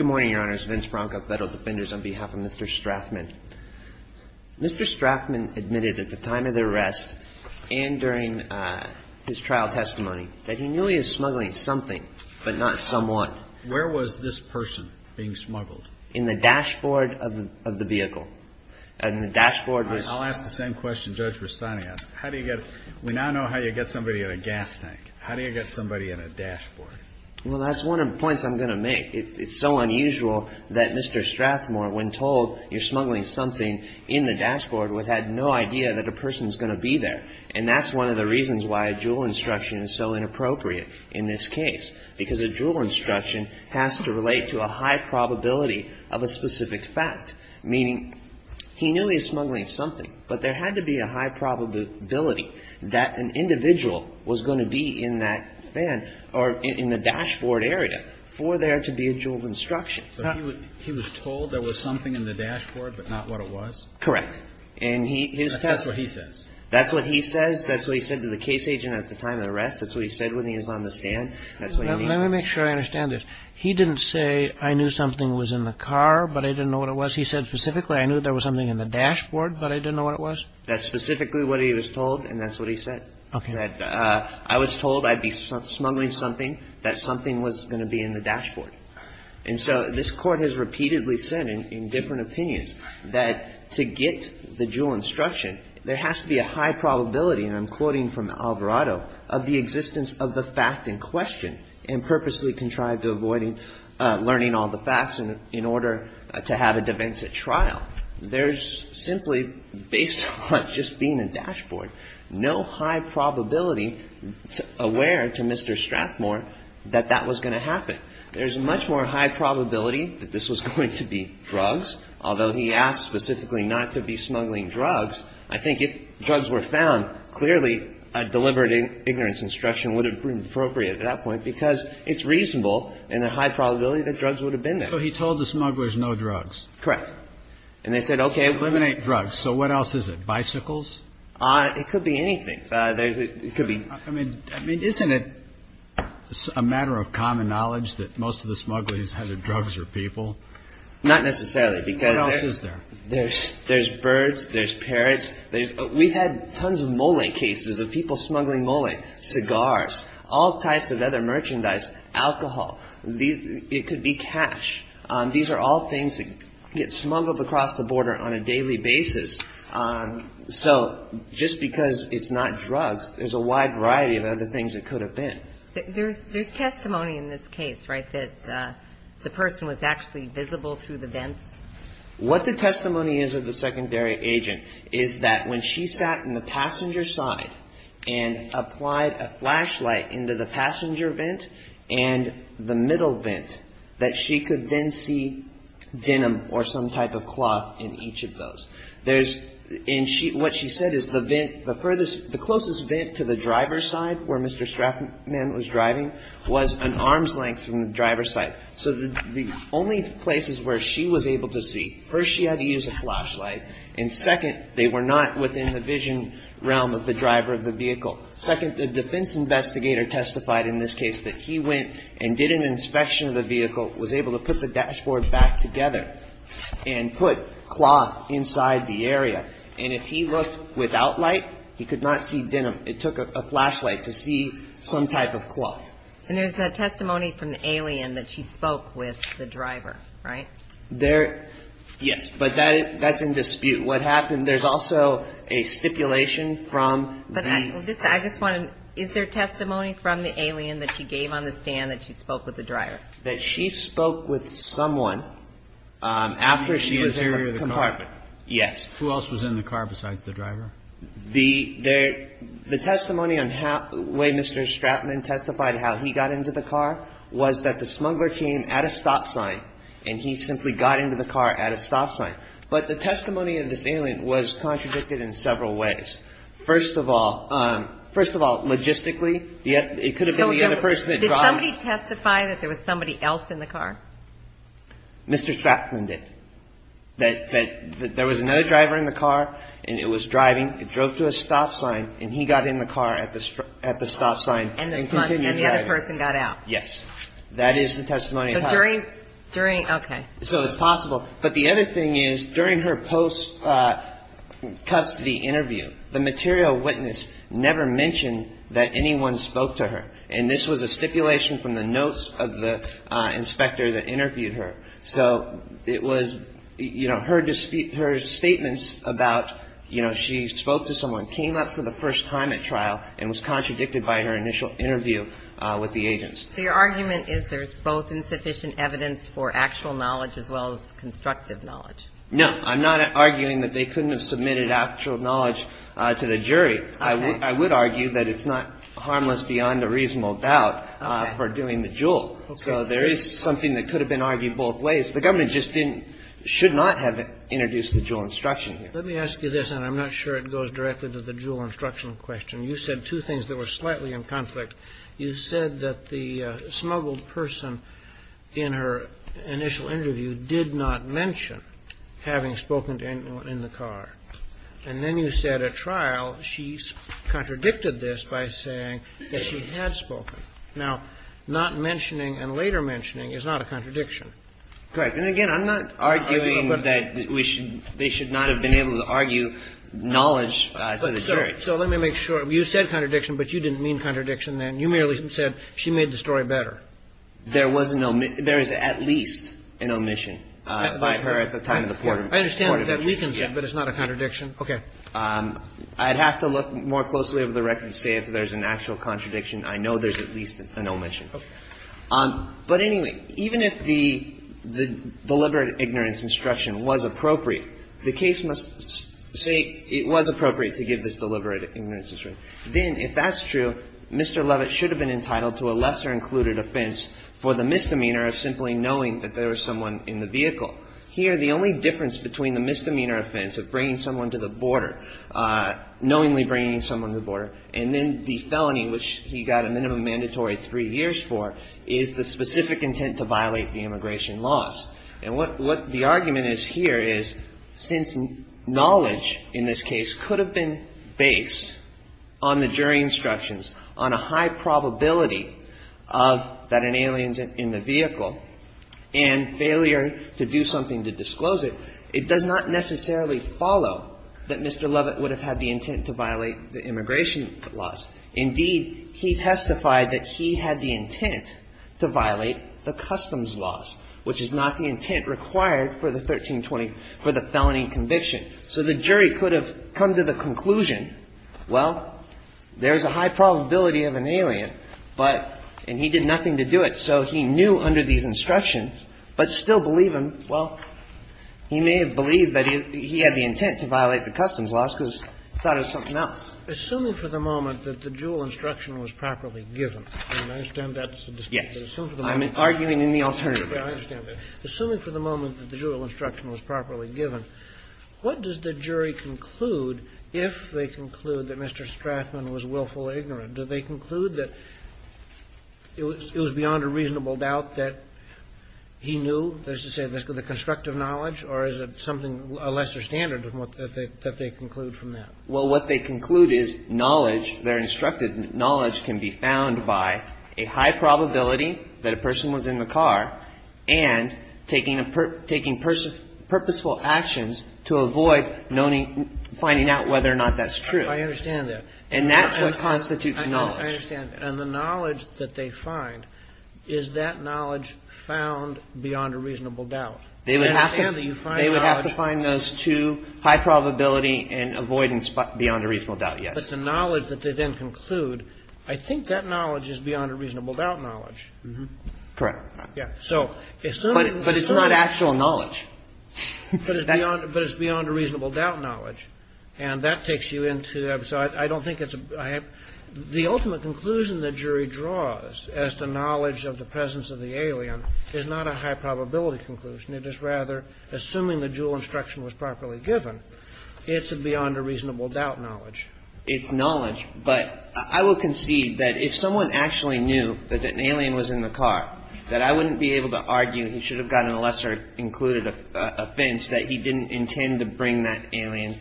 on behalf of Mr. Strathman. Mr. Strathman admitted at the time of the arrest and during his trial testimony that he knew he was smuggling something, but not somewhat. Where was this person being smuggled? In the dashboard of the vehicle. In the dashboard. I'll ask the same question Judge Rustani asked. How do you get, we now know how you get somebody in a gas tank. How do you get somebody in a dashboard? Well, that's one of the points I'm going to make. It's so unusual that Mr. Strathmore, when told you're smuggling something in the dashboard, would have no idea that a person is going to be there. And that's one of the reasons why a JUUL instruction is so inappropriate in this case. Because a JUUL instruction has to relate to a high probability of a specific fact. Meaning, he knew he was smuggling something, but there had to be a high probability that an individual was going to be in that van or in the dashboard area for there to be a JUUL instruction. But he was told there was something in the dashboard, but not what it was? Correct. And he, his testimony. That's what he says. That's what he says. That's what he said to the case agent at the time of the arrest. That's what he said when he was on the stand. Let me make sure I understand this. He didn't say, I knew something was in the car, but I didn't know what it was. He said specifically, I knew there was something in the dashboard, but I didn't know what it was? That's specifically what he was told, and that's what he said. Okay. That I was told I'd be smuggling something, that something was going to be in the dashboard. And so this Court has repeatedly said in different opinions that to get the JUUL instruction, there has to be a high probability, and I'm quoting from Alvarado, of the existence of the fact in question, and purposely contrived to avoiding learning all the facts in order to have a defense at trial. There's simply, based on just being a dashboard, no high probability aware to Mr. Strathmore that that was going to happen. There's much more high probability that this was going to be drugs, although he asked specifically not to be smuggling drugs. I think if drugs were found, clearly a deliberate ignorance instruction would have been appropriate at that point, because it's reasonable and a high probability that drugs would have been there. So he told the smugglers no drugs. Correct. And they said, okay. Eliminate drugs. So what else is it? Bicycles? It could be anything. It could be. I mean, isn't it a matter of common knowledge that most of the smugglers either drugs or people? Not necessarily, because there's birds, there's parrots. We've had tons of mullet cases of people smuggling mullet, cigars, all types of other merchandise, alcohol. It could be cash. These are all things that get smuggled across the border on a daily basis. So just because it's not drugs, there's a wide variety of other things it could have been. There's testimony in this case, right, that the person was actually visible through the vents? What the testimony is of the secondary agent is that when she sat in the passenger side and applied a flashlight into the passenger vent and the middle vent, that she could then see denim or some type of cloth in each of those. There's and she what she said is the vent, the furthest, the closest vent to the driver's side where Mr. Strathman was driving was an arm's length from the driver's side. So the only places where she was able to see, first she had to use a flashlight. And second, they were not within the vision realm of the driver of the vehicle. Second, the defense investigator testified in this case that he went and did an inspection of the vehicle, was able to put the dashboard back together and put cloth inside the area. And if he looked without light, he could not see denim. It took a flashlight to see some type of cloth. And there's a testimony from the alien that she spoke with the driver, right? There, yes, but that's in dispute. What happened, there's also a stipulation from the. I just want to, is there testimony from the alien that she gave on the stand that she spoke with the driver? That she spoke with someone after she was in the compartment. Yes. Who else was in the car besides the driver? The testimony on how, the way Mr. Stratman testified how he got into the car was that the smuggler came at a stop sign and he simply got into the car at a stop sign. But the testimony of this alien was contradicted in several ways. First of all, first of all, logistically, it could have been the other person that drove. Did somebody testify that there was somebody else in the car? Mr. Stratman did. That there was another driver in the car and it was driving. It drove to a stop sign and he got in the car at the stop sign. And the other person got out. Yes. That is the testimony. During, okay. So it's possible. But the other thing is, during her post-custody interview, the material witness never mentioned that anyone spoke to her. And this was a stipulation from the notes of the inspector that interviewed her. So it was, you know, her statements about, you know, she spoke to someone, came up for the first time at trial, and was contradicted by her initial interview with the agents. So your argument is there's both insufficient evidence for actual knowledge as well as constructive knowledge. No. I'm not arguing that they couldn't have submitted actual knowledge to the jury. I would argue that it's not harmless beyond a reasonable doubt for doing the jewel. Okay. So there is something that could have been argued both ways. The government just didn't, should not have introduced the jewel instruction here. Let me ask you this, and I'm not sure it goes directly to the jewel instruction question. You said two things that were slightly in conflict. You said that the smuggled person in her initial interview did not mention having spoken to anyone in the car. And then you said at trial she contradicted this by saying that she had spoken. Now, not mentioning and later mentioning is not a contradiction. Correct. And again, I'm not arguing that they should not have been able to argue knowledge to the jury. So let me make sure. You said contradiction, but you didn't mean contradiction then. You merely said she made the story better. There was no omission. There is at least an omission by her at the time of the port of entry. I understand that that weakens it, but it's not a contradiction. Okay. I'd have to look more closely over the record to say if there's an actual contradiction. I know there's at least an omission. Okay. But, anyway, even if the deliberate ignorance instruction was appropriate, the case must say it was appropriate to give this deliberate ignorance instruction. Then, if that's true, Mr. Levitt should have been entitled to a lesser included offense for the misdemeanor of simply knowing that there was someone in the vehicle. Here, the only difference between the misdemeanor offense of bringing someone to the border, knowingly bringing someone to the border, and then the felony, which he got a minimum mandatory three years for, is the specific intent to violate the immigration laws. And what the argument is here is since knowledge in this case could have been based on the jury instructions, on a high probability of that an alien's in the vehicle, and failure to do something to disclose it, it does not necessarily follow that Mr. Levitt would have had the intent to violate the immigration laws. Indeed, he testified that he had the intent to violate the customs laws, which is not the intent required for the 1320, for the felony conviction. So the jury could have come to the conclusion, well, there's a high probability of an alien, but, and he did nothing to do it. So he knew under these instructions, but still believe him, well, he may have believed that he had the intent to violate the customs laws because he thought it was something Assuming for the moment that the Juul instruction was properly given, and I understand that's a dispute, but assuming for the moment that the Juul instruction was properly given, what does the jury conclude if they conclude that Mr. Strathman was willful or ignorant? Do they conclude that it was beyond a reasonable doubt that he knew, that is to say, the constructive knowledge, or is it something, a lesser standard that they conclude from that? Well, what they conclude is knowledge, their instructed knowledge can be found by a high probability that a person was in the car and taking purposeful actions to avoid finding out whether or not that's true. I understand that. And that's what constitutes knowledge. I understand. And the knowledge that they find, is that knowledge found beyond a reasonable doubt? I understand that you find knowledge. I find those two, high probability and avoidance beyond a reasonable doubt, yes. But the knowledge that they then conclude, I think that knowledge is beyond a reasonable doubt knowledge. Correct. Yeah. But it's not actual knowledge. But it's beyond a reasonable doubt knowledge. And that takes you into, so I don't think it's, the ultimate conclusion the jury draws as to knowledge of the presence of the alien is not a high probability conclusion. It is rather, assuming the dual instruction was properly given, it's a beyond a reasonable doubt knowledge. It's knowledge. But I will concede that if someone actually knew that an alien was in the car, that I wouldn't be able to argue he should have gotten a lesser included offense that he didn't intend to bring that alien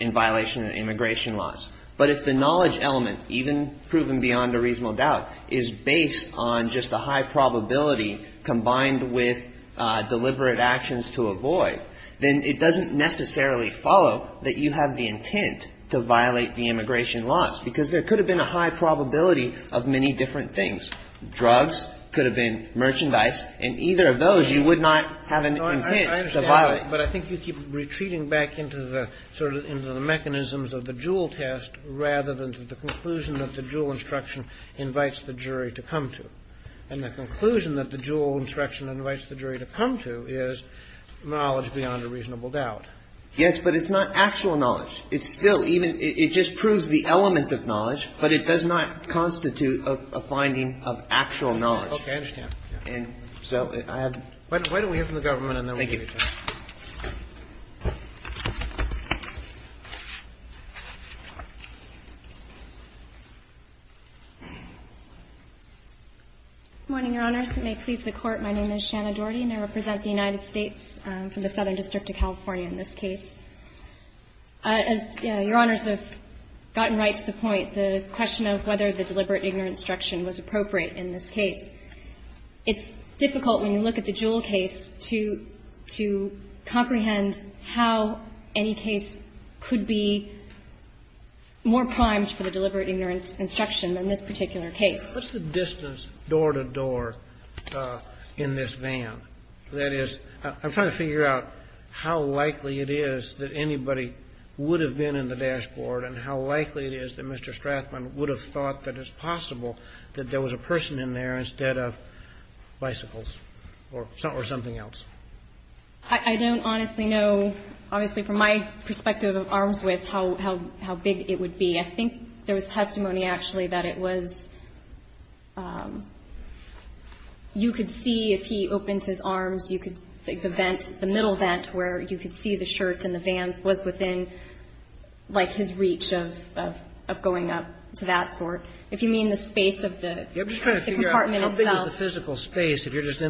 in violation of immigration laws. But if the knowledge element, even proven beyond a reasonable doubt, is based on just a high probability combined with deliberate actions to avoid, then it doesn't necessarily follow that you have the intent to violate the immigration laws. Because there could have been a high probability of many different things. Drugs could have been, merchandise, and either of those you would not have an intent to violate. I understand. But I think you keep retreating back into the mechanisms of the dual test rather than to the conclusion that the dual instruction invites the jury to come to. And the conclusion that the dual instruction invites the jury to come to is knowledge beyond a reasonable doubt. Yes, but it's not actual knowledge. It's still even – it just proves the element of knowledge, but it does not constitute a finding of actual knowledge. Okay. I understand. And so I have to – Why don't we hear from the government and then we'll give you time. Thank you. Good morning, Your Honors. May it please the Court, my name is Shanna Doherty and I represent the United States from the Southern District of California in this case. As Your Honors have gotten right to the point, the question of whether the deliberate ignorance instruction was appropriate in this case, it's difficult when you look at the How any case could be more primed for the deliberate ignorance instruction than this particular case. What's the distance door to door in this van? That is, I'm trying to figure out how likely it is that anybody would have been in the dashboard and how likely it is that Mr. Strathman would have thought that it's possible that there was a person in there instead of bicycles or something else. I don't honestly know, obviously from my perspective of arms width, how big it would be. I think there was testimony actually that it was – you could see if he opened his arms, you could – the vent, the middle vent where you could see the shirt and the van was within like his reach of going up to that sort. If you mean the space of the compartment itself. I'm just trying to figure out how big is the physical space if you're just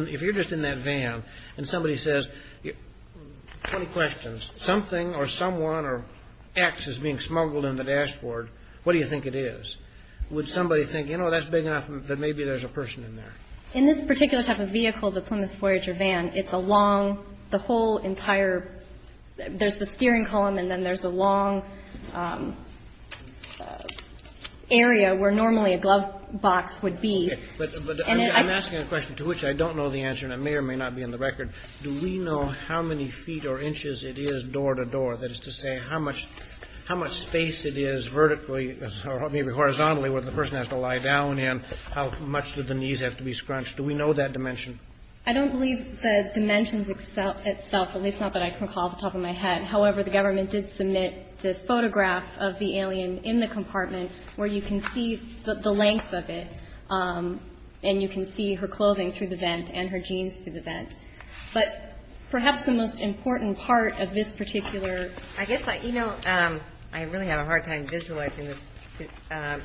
in that van and somebody says – 20 questions. Something or someone or X is being smuggled in the dashboard. What do you think it is? Would somebody think, you know, that's big enough that maybe there's a person in there? In this particular type of vehicle, the Plymouth Voyager van, it's a long – the whole entire – there's the steering column and then there's a long area where normally a glove box would be. Okay. But I'm asking a question to which I don't know the answer and it may or may not be in the record. Do we know how many feet or inches it is door to door? That is to say how much space it is vertically or maybe horizontally where the person has to lie down in? How much do the knees have to be scrunched? Do we know that dimension? I don't believe the dimensions itself, at least not that I can recall off the top of my head. However, the government did submit the photograph of the alien in the compartment where you can see the length of it and you can see her clothing through the vent and her jeans through the vent. But perhaps the most important part of this particular – I guess I – you know, I really have a hard time visualizing this.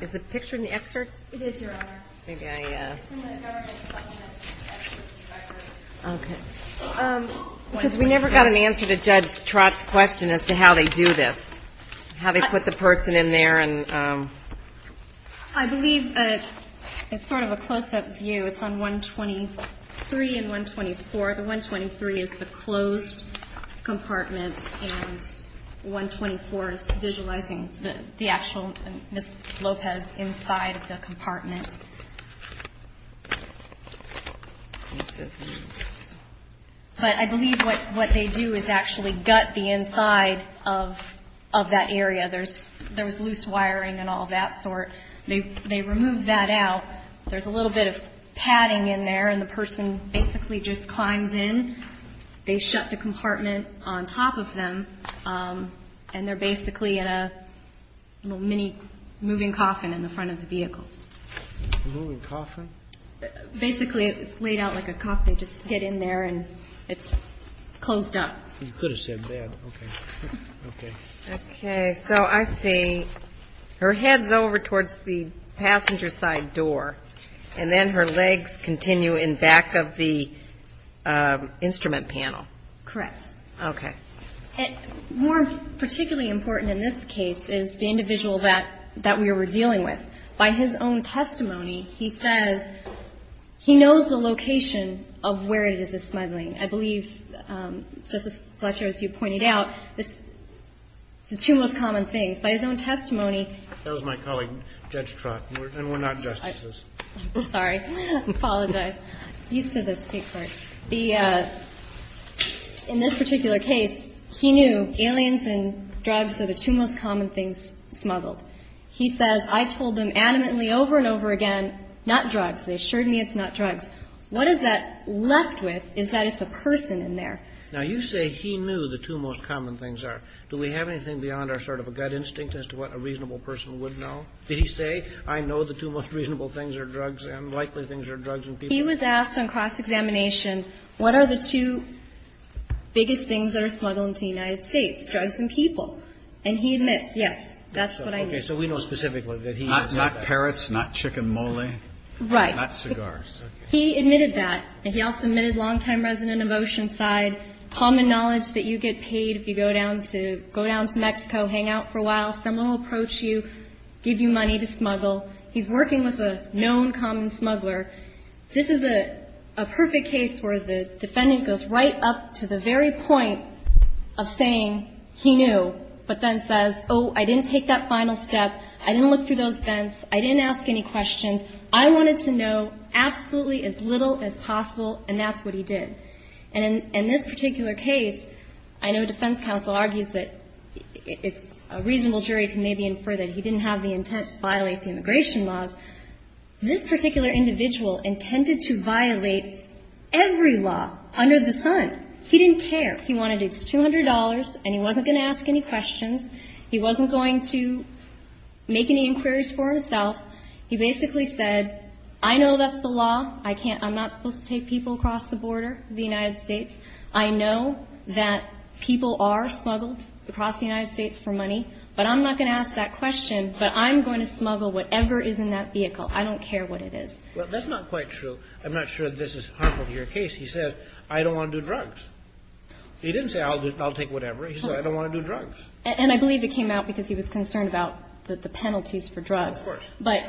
Is the picture in the excerpts? It is, Your Honor. Maybe I – It's in the government's documents. Okay. Because we never got an answer to Judge Trott's question as to how they do this, how they put the person in there and – I believe it's sort of a close-up view. It's on 123 and 124. The 123 is the closed compartment, and the 124 is visualizing the actual Ms. Lopez inside of the compartment. But I believe what they do is actually gut the inside of that area. There's loose wiring and all that sort. They remove that out. There's a little bit of padding in there, and the person basically just climbs in. They shut the compartment on top of them, and they're basically in a little mini moving coffin in the front of the vehicle. Moving coffin? Basically, it's laid out like a coffin. They just get in there, and it's closed up. You could have said that. Okay. Okay. Okay. So I see her head's over towards the passenger side door, and then her legs continue in back of the instrument panel. Correct. Okay. More particularly important in this case is the individual that we were dealing with. By his own testimony, he says he knows the location of where it is he's smuggling. I believe, Justice Fletcher, as you pointed out, it's the two most common things. By his own testimony, That was my colleague, Judge Trott, and we're not justices. I'm sorry. I apologize. He's to the State court. In this particular case, he knew aliens and drugs are the two most common things smuggled. He says, I told them adamantly over and over again, not drugs. They assured me it's not drugs. What is that left with is that it's a person in there. Now, you say he knew the two most common things are. Do we have anything beyond our sort of gut instinct as to what a reasonable person would know? Did he say, I know the two most reasonable things are drugs and likely things are drugs and people? He was asked on cross-examination, what are the two biggest things that are smuggled into the United States, drugs and people? And he admits, yes, that's what I knew. Okay. So we know specifically that he knows that. Not parrots, not chicken mole. Right. Not cigars. He admitted that. And he also admitted long-time resident of Oceanside, common knowledge that you get paid if you go down to Mexico, hang out for a while. Someone will approach you, give you money to smuggle. He's working with a known common smuggler. This is a perfect case where the defendant goes right up to the very point of saying he knew, but then says, oh, I didn't take that final step. I didn't look through those vents. I didn't ask any questions. I wanted to know absolutely as little as possible, and that's what he did. And in this particular case, I know defense counsel argues that it's a reasonable jury can maybe infer that he didn't have the intent to violate the immigration laws. This particular individual intended to violate every law under the sun. He didn't care. He wanted his $200, and he wasn't going to ask any questions. He wasn't going to make any inquiries for himself. He basically said, I know that's the law. I'm not supposed to take people across the border of the United States. I know that people are smuggled across the United States for money, but I'm not going to ask that question, but I'm going to smuggle whatever is in that vehicle. I don't care what it is. Well, that's not quite true. I'm not sure this is harmful to your case. He said, I don't want to do drugs. He didn't say, I'll take whatever. He said, I don't want to do drugs. And I believe it came out because he was concerned about the penalties for drugs. Of course. But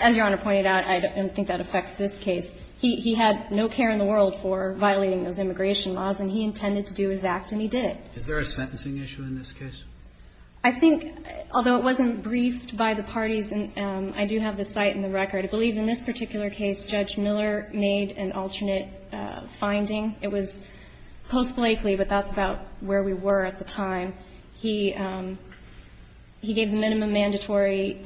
as Your Honor pointed out, I don't think that affects this case. He had no care in the world for violating those immigration laws, and he intended to do his act, and he did. Is there a sentencing issue in this case? I think, although it wasn't briefed by the parties, and I do have the site and the record, I believe in this particular case, Judge Miller made an alternate finding. It was post-Blakely, but that's about where we were at the time. He gave the minimum mandatory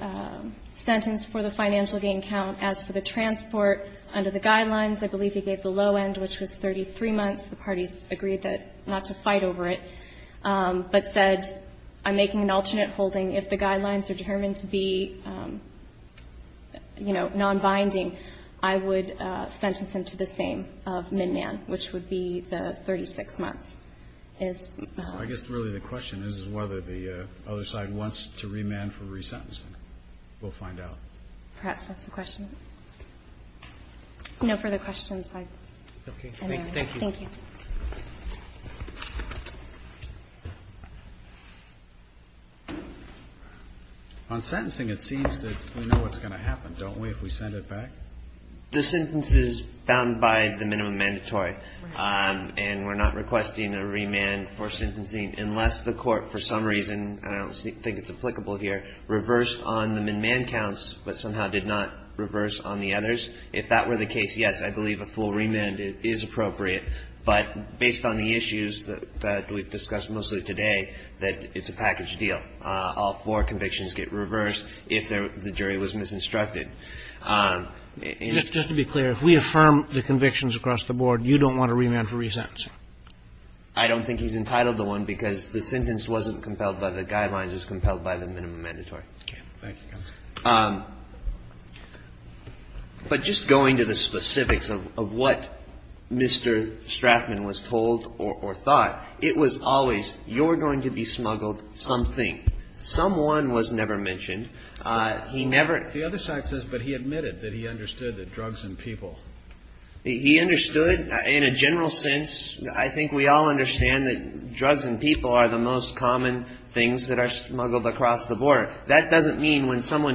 sentence for the financial gain count. As for the transport, under the guidelines, I believe he gave the low end, which was 33 months. The parties agreed not to fight over it, but said, I'm making an alternate holding. If the guidelines are determined to be, you know, nonbinding, I would sentence him to the same of midman, which would be the 36 months. I guess really the question is whether the other side wants to remand for resentencing. We'll find out. Perhaps that's the question. No further questions. Thank you. On sentencing, it seems that we know what's going to happen, don't we, if we send it back? The sentence is bound by the minimum mandatory, and we're not requesting a remand for sentencing unless the Court, for some reason, and I don't think it's applicable here, reversed on the midman counts, but somehow did not reverse on the others. If that were the case, yes, I believe a full remand is appropriate, but based on the issues that we've discussed mostly today, that it's a package deal. All four convictions get reversed if the jury was misinstructed. Just to be clear, if we affirm the convictions across the board, you don't want a remand for resentencing? I don't think he's entitled to one because the sentence wasn't compelled by the guidelines. Okay. Thank you, counsel. But just going to the specifics of what Mr. Strachman was told or thought, it was always you're going to be smuggled something. Someone was never mentioned. He never ---- The other side says, but he admitted that he understood that drugs and people. He understood, in a general sense, I think we all understand that drugs and people when someone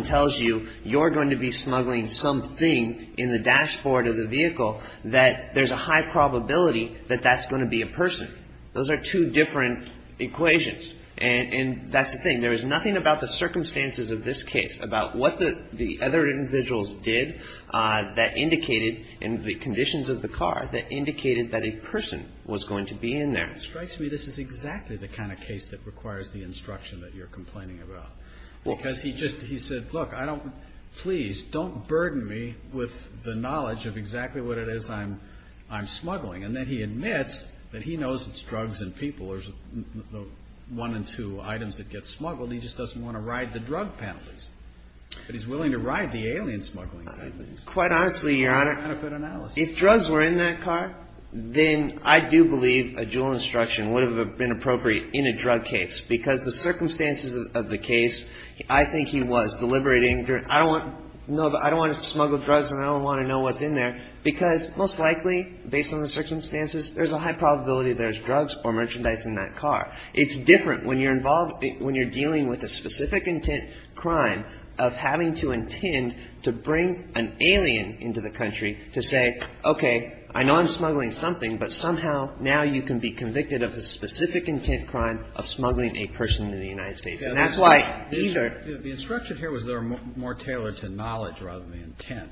tells you you're going to be smuggling something in the dashboard of the vehicle, that there's a high probability that that's going to be a person. Those are two different equations. And that's the thing. There is nothing about the circumstances of this case, about what the other individuals did that indicated in the conditions of the car that indicated that a person was going to be in there. It strikes me this is exactly the kind of case that requires the instruction that you're going to be smuggled. Because he just, he said, look, I don't, please, don't burden me with the knowledge of exactly what it is I'm smuggling. And then he admits that he knows it's drugs and people. There's one in two items that get smuggled. He just doesn't want to ride the drug penalties. But he's willing to ride the alien smuggling penalties. Quite honestly, Your Honor, if drugs were in that car, then I do believe a dual instruction would have been appropriate in a drug case, because the circumstances of the case, I think he was deliberating. I don't want to smuggle drugs and I don't want to know what's in there, because most likely, based on the circumstances, there's a high probability there's drugs or merchandise in that car. It's different when you're involved, when you're dealing with a specific intent crime of having to intend to bring an alien into the country to say, okay, I know I'm convicted of a specific intent crime of smuggling a person into the United States. And that's why either the instruction here was there more tailored to knowledge rather than intent.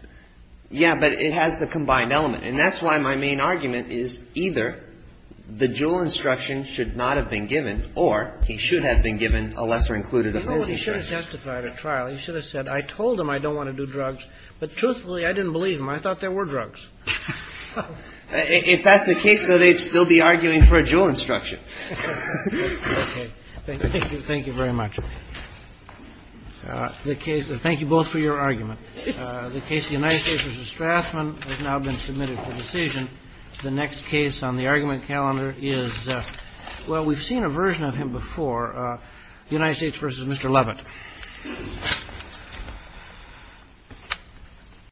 Yeah. But it has the combined element. And that's why my main argument is either the dual instruction should not have been given or he should have been given a lesser included offense instruction. He should have testified at trial. He should have said, I told him I don't want to do drugs. But truthfully, I didn't believe him. I thought there were drugs. If that's the case, though, they'd still be arguing for a dual instruction. Okay. Thank you. Thank you very much. Thank you both for your argument. The case of the United States v. Strassman has now been submitted for decision. The next case on the argument calendar is, well, we've seen a version of him before, United States v. Mr. Leavitt.